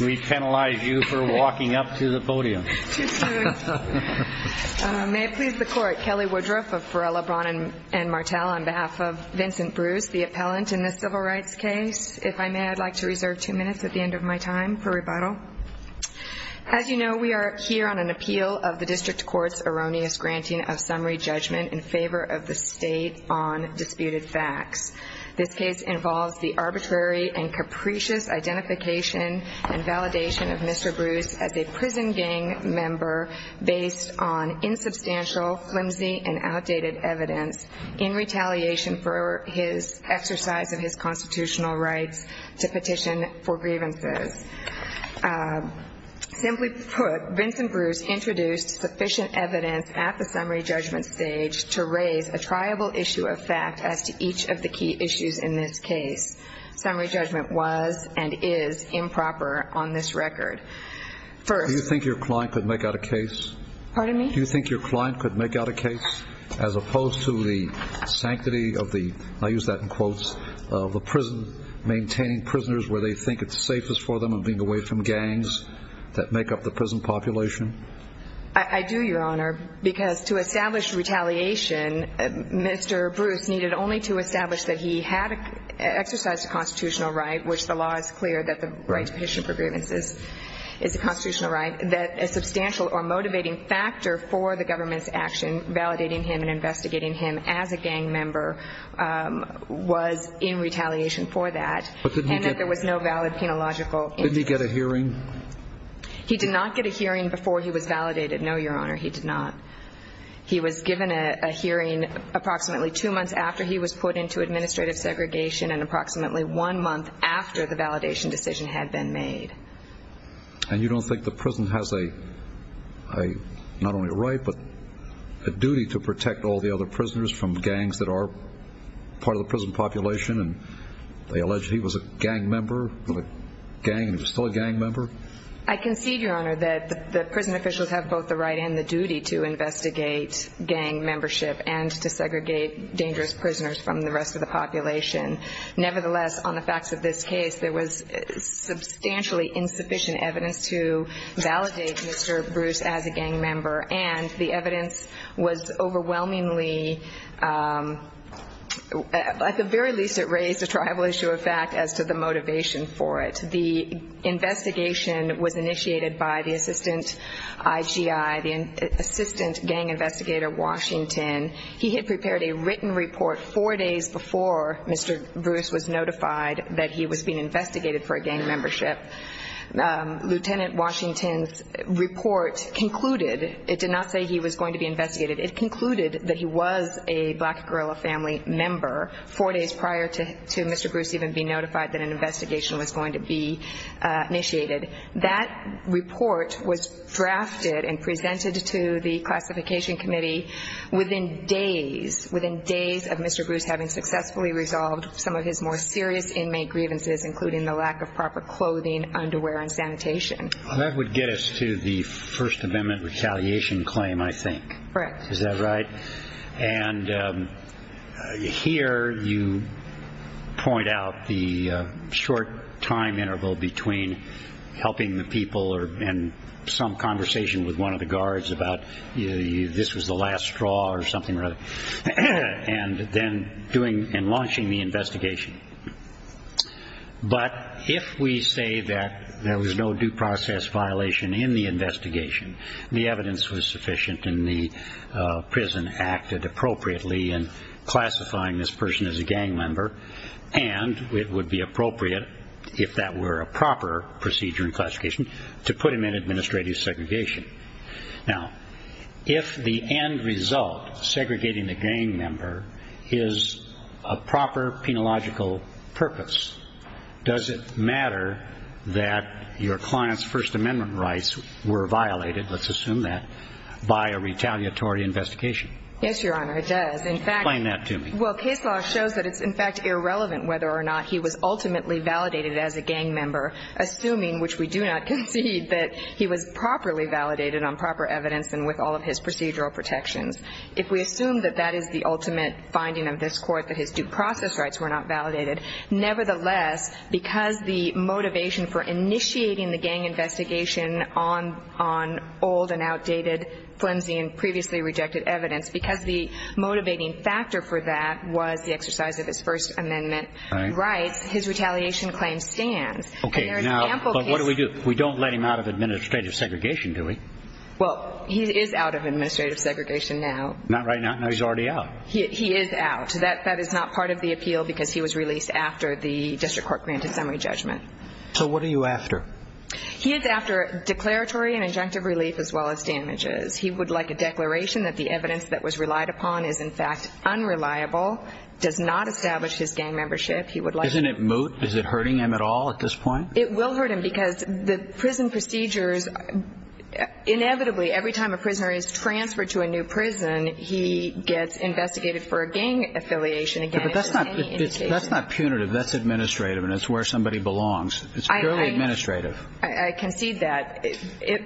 We penalize you for walking up to the podium. May it please the Court, Kelly Woodruff of Farrell, LeBron, and Martel, on behalf of Vincent Bruce, the appellant in this civil rights case. If I may, I'd like to reserve two minutes at the end of my time for rebuttal. As you know, we are here on an appeal of the District Court's erroneous granting of summary judgment in favor of the State on disputed facts. This case involves the arbitrary and capricious identification and validation of Mr. Bruce as a prison gang member based on insubstantial, flimsy, and outdated evidence in retaliation for his exercise of his constitutional rights to petition for grievances. Simply put, Vincent Bruce introduced sufficient evidence at the summary judgment stage to raise a triable issue of fact as to each of the key issues in this case. Summary judgment was and is improper on this record. Do you think your client could make out a case? Pardon me? Do you think your client could make out a case as opposed to the sanctity of the, I'll use that in quotes, of the prison maintaining prisoners where they think it's safest for them and being away from gangs that make up the prison population? I do, Your Honor, because to establish retaliation, Mr. Bruce needed only to establish that he had exercised a constitutional right, which the law is clear that the right to petition for grievances is a constitutional right, that a substantial or motivating factor for the government's action, validating him and investigating him as a gang member, was in retaliation for that, and that there was no valid penological instance. Did he get a hearing? He did not get a hearing before he was validated, no, Your Honor, he did not. He was given a hearing approximately two months after he was put into administrative segregation and approximately one month after the validation decision had been made. And you don't think the prison has a, not only a right, but a duty to protect all the other prisoners from gangs that are part of the prison population and they allege he was a gang member, gang, still a gang member? I concede, Your Honor, that the prison officials have both the right and the duty to investigate gang membership and to segregate dangerous prisoners from the rest of the population. Nevertheless, on the facts of this case, there was substantially insufficient evidence to validate Mr. Bruce as a gang member, and the evidence was overwhelmingly, at the very least it raised a tribal issue of fact as to the motivation for it. The investigation was initiated by the assistant IGI, the assistant gang investigator, Washington. He had prepared a written report four days before Mr. Bruce was notified that he was being investigated for a gang membership. Lieutenant Washington's report concluded, it did not say he was going to be investigated, it concluded that he was a black guerrilla family member four days prior to Mr. Bruce even being notified that an investigation was going to be initiated. That report was drafted and presented to the classification committee within days, within days of Mr. Bruce having successfully resolved some of his more serious inmate grievances, including the lack of proper clothing, underwear, and sanitation. That would get us to the First Amendment retaliation claim, I think. Correct. Is that right? And here you point out the short time interval between helping the people and some conversation with one of the guards about this was the last straw or something or other, and then doing and launching the investigation. But if we say that there was no due process violation in the investigation, the evidence was sufficient and the prison acted appropriately in classifying this person as a gang member, and it would be appropriate, if that were a proper procedure in classification, to put him in administrative segregation. Now, if the end result, segregating the gang member, is a proper penological purpose, does it matter that your client's First Amendment rights were violated, let's assume that, by a retaliatory investigation? Yes, Your Honor, it does. Explain that to me. Well, case law shows that it's, in fact, irrelevant whether or not he was ultimately validated as a gang member, assuming, which we do not concede, that he was properly validated on proper evidence and with all of his procedural protections. If we assume that that is the ultimate finding of this Court, that his due process rights were not validated, nevertheless, because the motivation for initiating the gang investigation on old and outdated, flimsy and previously rejected evidence, because the motivating factor for that was the exercise of his First Amendment rights, his retaliation claim stands. Okay, now, but what do we do? We don't let him out of administrative segregation, do we? Well, he is out of administrative segregation now. Not right now? No, he's already out. He is out. That is not part of the appeal because he was released after the district court granted summary judgment. So what are you after? He is after declaratory and injunctive relief as well as damages. He would like a declaration that the evidence that was relied upon is, in fact, unreliable, does not establish his gang membership. Isn't it moot? Is it hurting him at all at this point? It will hurt him because the prison procedures, inevitably, every time a prisoner is transferred to a new prison, he gets investigated for a gang affiliation again. But that's not punitive. That's administrative, and it's where somebody belongs. It's purely administrative. I concede that.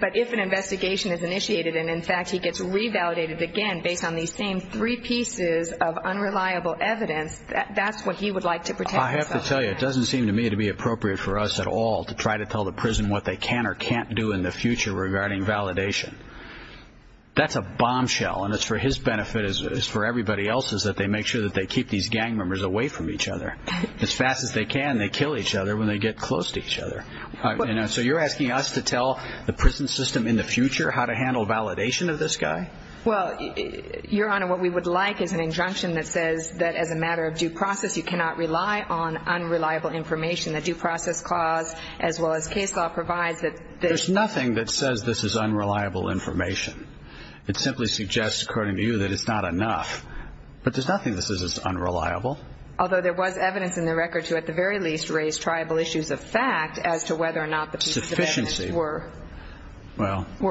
But if an investigation is initiated and, in fact, he gets revalidated again based on these same three pieces of unreliable evidence, that's what he would like to protect himself. I have to tell you, it doesn't seem to me to be appropriate for us at all to try to tell the prison what they can or can't do in the future regarding validation. That's a bombshell, and it's for his benefit. It's for everybody else's that they make sure that they keep these gang members away from each other. As fast as they can, they kill each other when they get close to each other. So you're asking us to tell the prison system in the future how to handle validation of this guy? Well, Your Honor, what we would like is an injunction that says that, as a matter of due process, you cannot rely on unreliable information. The Due Process Clause, as well as case law, provides that... There's nothing that says this is unreliable information. It simply suggests, according to you, that it's not enough. But there's nothing that says it's unreliable. Although there was evidence in the record to, at the very least, raise tribal issues of fact as to whether or not the pieces of evidence were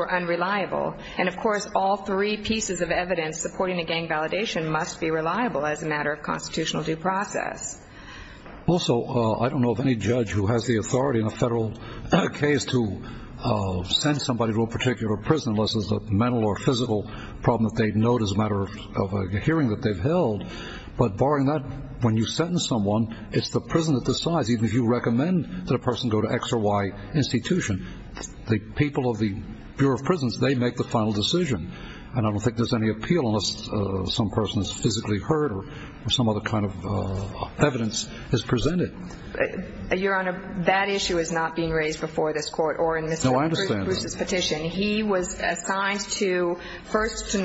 unreliable. And, of course, all three pieces of evidence supporting a gang validation must be reliable as a matter of constitutional due process. Also, I don't know of any judge who has the authority in a federal case to send somebody to a particular prison unless it's a mental or physical problem that they note as a matter of a hearing that they've held. But, barring that, when you sentence someone, it's the prison that decides, even if you recommend that a person go to X or Y institution. The people of the Bureau of Prisons, they make the final decision. And I don't think there's any appeal unless some person is physically hurt or some other kind of evidence is presented. Your Honor, that issue is not being raised before this Court or in Mr. Bruce's petition. No, I understand. He was assigned first to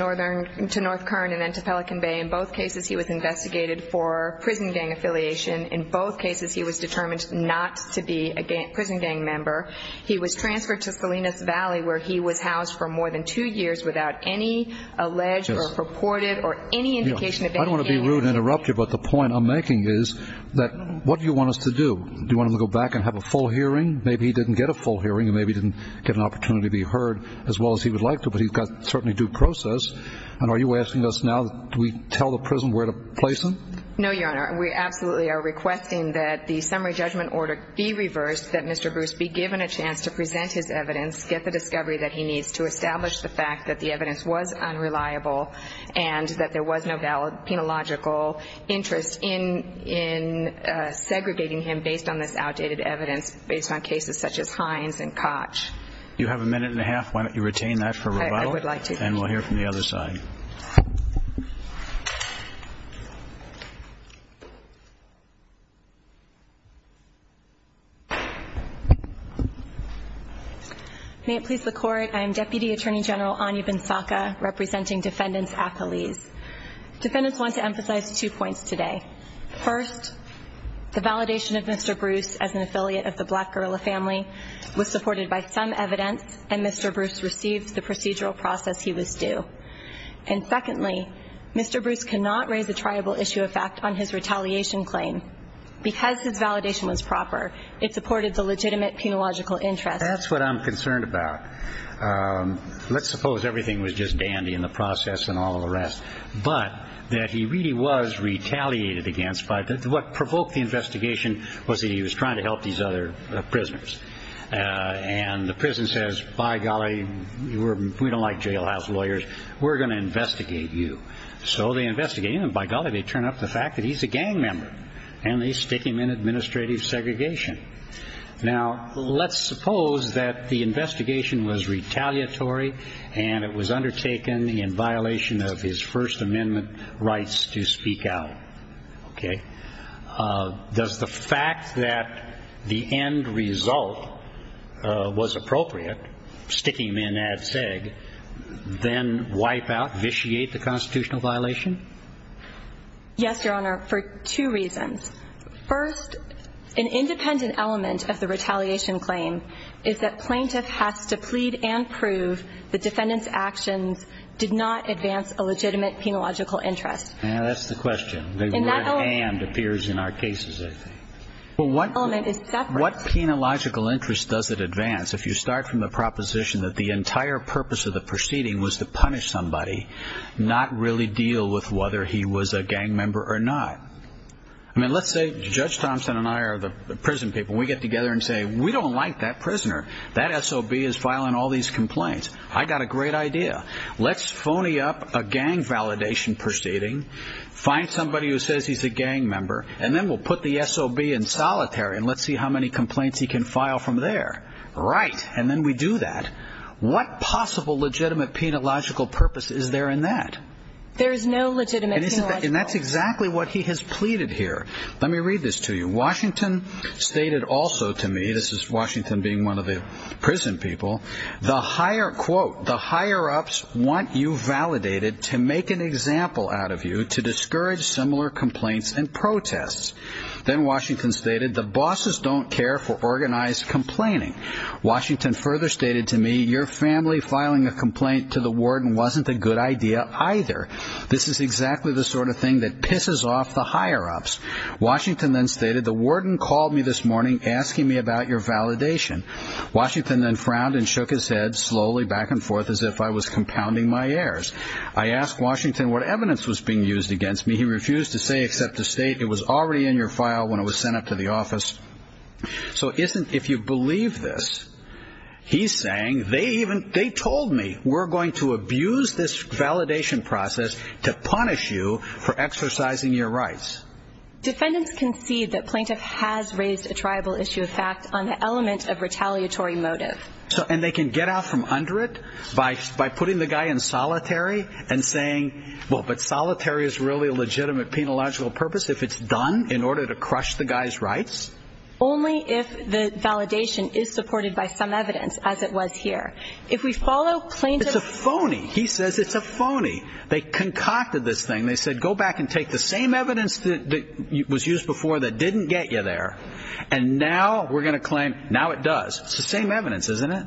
North Kern and then to Pelican Bay. In both cases, he was investigated for prison gang affiliation. In both cases, he was determined not to be a prison gang member. He was transferred to Salinas Valley where he was housed for more than two years without any alleged or purported or any indication of any gang affiliation. I don't want to be rude and interrupt you, but the point I'm making is that what do you want us to do? Do you want him to go back and have a full hearing? Maybe he didn't get a full hearing. Maybe he didn't get an opportunity to be heard as well as he would like to, but he's got certainly due process. And are you asking us now do we tell the prison where to place him? No, Your Honor. We absolutely are requesting that the summary judgment order be reversed, that Mr. Bruce be given a chance to present his evidence, get the discovery that he needs to establish the fact that the evidence was unreliable and that there was no valid penological interest in segregating him based on this outdated evidence, based on cases such as Hines and Koch. You have a minute and a half. Why don't you retain that for rebuttal? I would like to. And we'll hear from the other side. May it please the Court. I am Deputy Attorney General Anya Bensaka, representing defendants' accolades. Defendants want to emphasize two points today. First, the validation of Mr. Bruce as an affiliate of the Black Gorilla family was supported by some evidence, and Mr. Bruce received the procedural process he was due. And secondly, Mr. Bruce cannot raise a triable issue of fact on his retaliation claim. Because his validation was proper, it supported the legitimate penological interest. That's what I'm concerned about. Let's suppose everything was just dandy in the process and all the rest, but that he really was retaliated against. What provoked the investigation was that he was trying to help these other prisoners. And the prison says, by golly, we don't like jailhouse lawyers. We're going to investigate you. So they investigate him, and by golly, they turn up the fact that he's a gang member. And they stick him in administrative segregation. Now, let's suppose that the investigation was retaliatory and it was undertaken in violation of his First Amendment rights to speak out. Okay. Does the fact that the end result was appropriate, sticking him in ad seg, then wipe out, vitiate the constitutional violation? Yes, Your Honor, for two reasons. First, an independent element of the retaliation claim is that plaintiff has to plead and prove the defendant's actions did not advance a legitimate penological interest. That's the question. The word and appears in our cases, I think. Well, what penological interest does it advance if you start from the proposition that the entire purpose of the proceeding was to punish somebody, not really deal with whether he was a gang member or not? I mean, let's say Judge Thompson and I are the prison people. We get together and say, we don't like that prisoner. That SOB is filing all these complaints. I've got a great idea. Let's phony up a gang validation proceeding, find somebody who says he's a gang member, and then we'll put the SOB in solitary and let's see how many complaints he can file from there. Right. And then we do that. What possible legitimate penological purpose is there in that? There is no legitimate penological purpose. And that's exactly what he has pleaded here. Let me read this to you. Washington stated also to me, this is Washington being one of the prison people, quote, the higher-ups want you validated to make an example out of you to discourage similar complaints and protests. Then Washington stated, the bosses don't care for organized complaining. Washington further stated to me, your family filing a complaint to the warden wasn't a good idea either. This is exactly the sort of thing that pisses off the higher-ups. Washington then stated, the warden called me this morning asking me about your validation. Washington then frowned and shook his head slowly back and forth as if I was compounding my errors. I asked Washington what evidence was being used against me. He refused to say except to state it was already in your file when it was sent up to the office. So if you believe this, he's saying they told me we're going to abuse this validation process to punish you for exercising your rights. Defendants concede that plaintiff has raised a tribal issue of fact on the element of retaliatory motive. And they can get out from under it by putting the guy in solitary and saying, well, but solitary is really a legitimate penological purpose if it's done in order to crush the guy's rights? Only if the validation is supported by some evidence as it was here. If we follow plaintiff's It's a phony. He says it's a phony. They concocted this thing. They said go back and take the same evidence that was used before that didn't get you there, and now we're going to claim now it does. It's the same evidence, isn't it?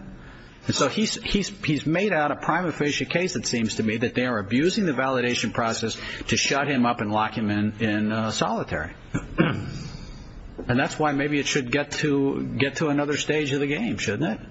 And so he's made out a prima facie case, it seems to me, that they are abusing the validation process to shut him up and lock him in solitary. And that's why maybe it should get to another stage of the game, shouldn't it?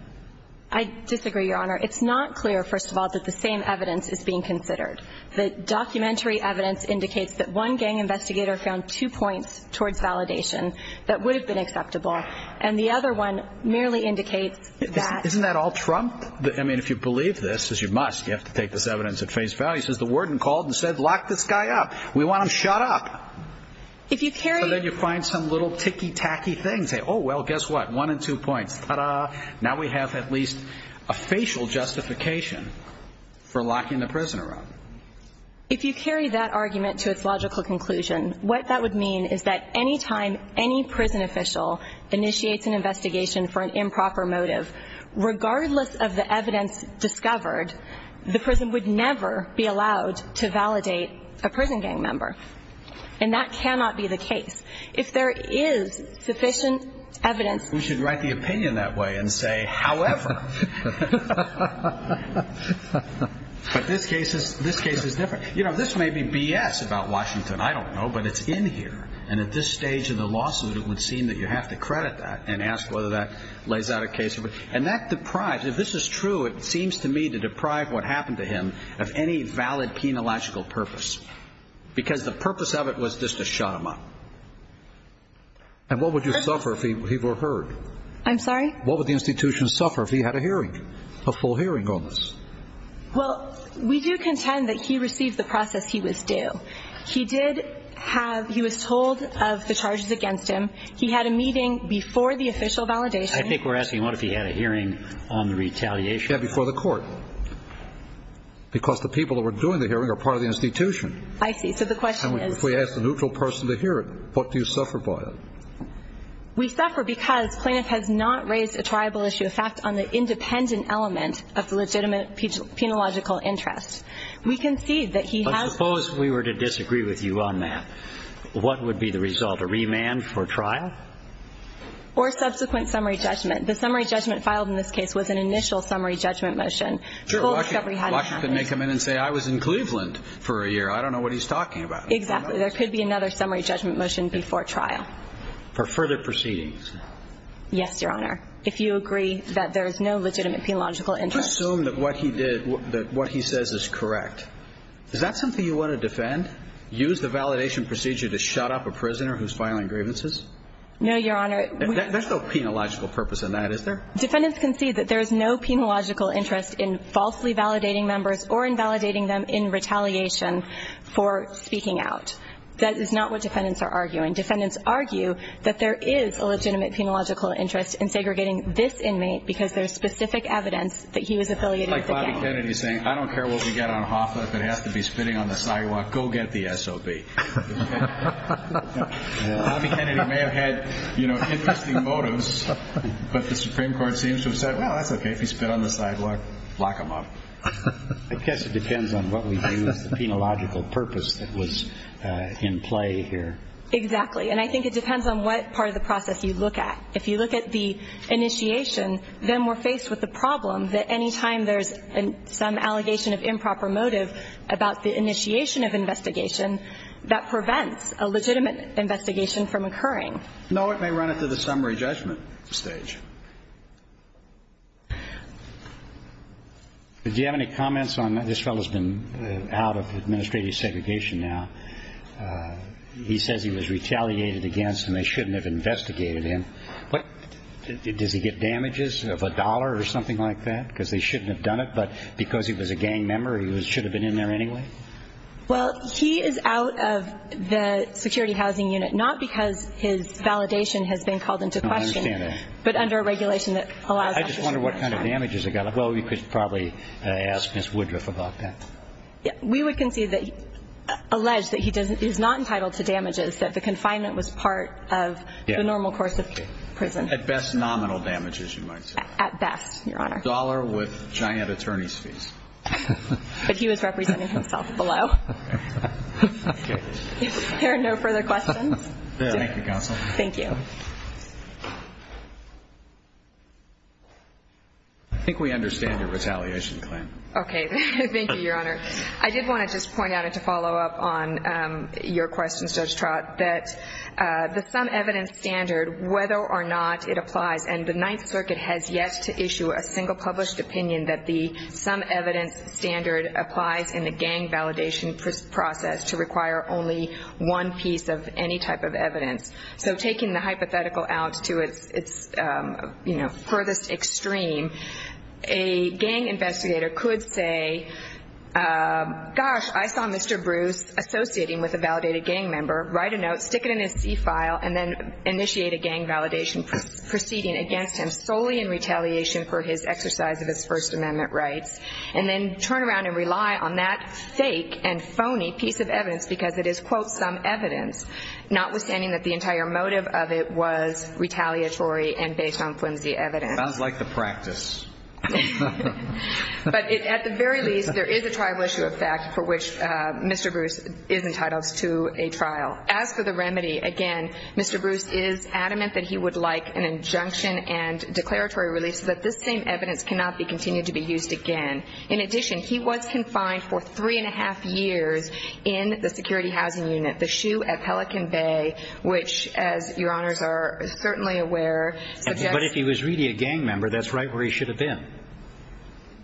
I disagree, Your Honor. It's not clear, first of all, that the same evidence is being considered. The documentary evidence indicates that one gang investigator found two points towards validation that would have been acceptable, and the other one merely indicates that. Isn't that all trumped? I mean, if you believe this, as you must, you have to take this evidence at face value. He says the warden called and said, lock this guy up. We want him shut up. If you carry it. So then you find some little ticky-tacky things. Oh, well, guess what? One and two points. Ta-da. Now we have at least a facial justification for locking the prisoner up. If you carry that argument to its logical conclusion, what that would mean is that any time any prison official initiates an investigation for an improper motive, regardless of the evidence discovered, the prison would never be allowed to validate a prison gang member. And that cannot be the case. If there is sufficient evidence. We should write the opinion that way and say, however. But this case is different. You know, this may be B.S. about Washington. I don't know, but it's in here. And at this stage in the lawsuit, it would seem that you have to credit that and ask whether that lays out a case. And that deprives, if this is true, it seems to me to deprive what happened to him of any valid penilogical purpose, because the purpose of it was just to shut him up. And what would you suffer if he were heard? I'm sorry? What would the institution suffer if he had a hearing, a full hearing on this? Well, we do contend that he received the process he was due. He did have, he was told of the charges against him. He had a meeting before the official validation. I think we're asking what if he had a hearing on the retaliation. Yeah, before the court. Because the people that were doing the hearing are part of the institution. I see. So the question is. If we ask the neutral person to hear it, what do you suffer by it? We suffer because plaintiff has not raised a triable issue, a fact on the independent element of the legitimate penilogical interest. We concede that he has. But suppose we were to disagree with you on that. What would be the result, a remand for trial? Or subsequent summary judgment. The summary judgment filed in this case was an initial summary judgment motion. Washington may come in and say, I was in Cleveland for a year. I don't know what he's talking about. Exactly. There could be another summary judgment motion before trial. For further proceedings. Yes, Your Honor. If you agree that there is no legitimate penilogical interest. Assume that what he did, that what he says is correct. Is that something you want to defend? Use the validation procedure to shut up a prisoner who's filing grievances? No, Your Honor. There's no penilogical purpose in that, is there? Defendants concede that there is no penilogical interest in falsely validating members or invalidating them in retaliation for speaking out. That is not what defendants are arguing. Defendants argue that there is a legitimate penilogical interest in segregating this inmate because there's specific evidence that he was affiliated with the gang. Like Bobby Kennedy saying, I don't care what we get on Hoffa. If it has to be spitting on the sidewalk, go get the SOB. Bobby Kennedy may have had, you know, interesting motives. But the Supreme Court seems to have said, well, that's okay. If he spit on the sidewalk, lock him up. I guess it depends on what we view as the penilogical purpose that was in play here. Exactly. And I think it depends on what part of the process you look at. If you look at the initiation, then we're faced with the problem that any time there's some allegation of improper motive about the initiation of investigation, that prevents a legitimate investigation from occurring. No, it may run it to the summary judgment stage. Do you have any comments on this fellow's been out of administrative segregation now? He says he was retaliated against and they shouldn't have investigated him. Does he get damages of a dollar or something like that because they shouldn't have done it, but because he was a gang member he should have been in there anyway? Well, he is out of the security housing unit, not because his validation has been called into question. I understand that. I just wonder what kind of damages he got. Well, we could probably ask Ms. Woodruff about that. We would concede that he alleged that he is not entitled to damages, that the confinement was part of the normal course of prison. At best, nominal damages you might say. At best, Your Honor. A dollar with giant attorney's fees. But he was representing himself below. Is there no further questions? Thank you, Counsel. Thank you. I think we understand your retaliation claim. Okay. Thank you, Your Honor. I did want to just point out and to follow up on your questions, Judge Trott, that the some evidence standard, whether or not it applies, and the Ninth Circuit has yet to issue a single published opinion that the some evidence standard applies in the gang validation process to require only one piece of any type of evidence. So taking the hypothetical out to its furthest extreme, a gang investigator could say, gosh, I saw Mr. Bruce associating with a validated gang member, write a note, stick it in his C file, and then initiate a gang validation proceeding against him solely in retaliation for his exercise of his First Amendment rights, and then turn around and rely on that fake and phony piece of evidence because it is, quote, some evidence, notwithstanding that the entire motive of it was retaliatory and based on flimsy evidence. Sounds like the practice. But at the very least, there is a tribal issue of fact for which Mr. Bruce is entitled to a trial. As for the remedy, again, Mr. Bruce is adamant that he would like an injunction and declaratory release so that this same evidence cannot be continued to be used again. In addition, he was confined for three and a half years in the security housing unit, the SHU at Pelican Bay, which, as Your Honors are certainly aware, suggests. But if he was really a gang member, that's right where he should have been.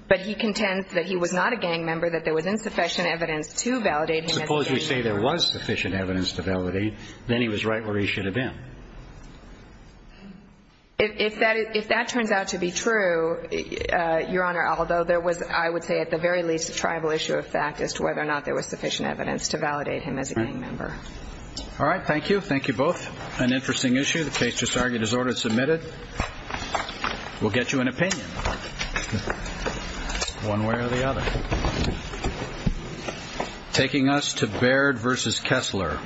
But he contends that he was not a gang member, that there was insufficient evidence to validate him as a gang member. Suppose we say there was sufficient evidence to validate, then he was right where he should have been. If that turns out to be true, Your Honor, although there was, I would say, at the very least, a tribal issue of fact as to whether or not there was sufficient evidence to validate him as a gang member. All right, thank you. Thank you both. An interesting issue. The case just argued as ordered and submitted. We'll get you an opinion one way or the other. Taking us to Baird v. Kessler.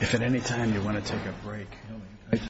If at any time you want to take a break.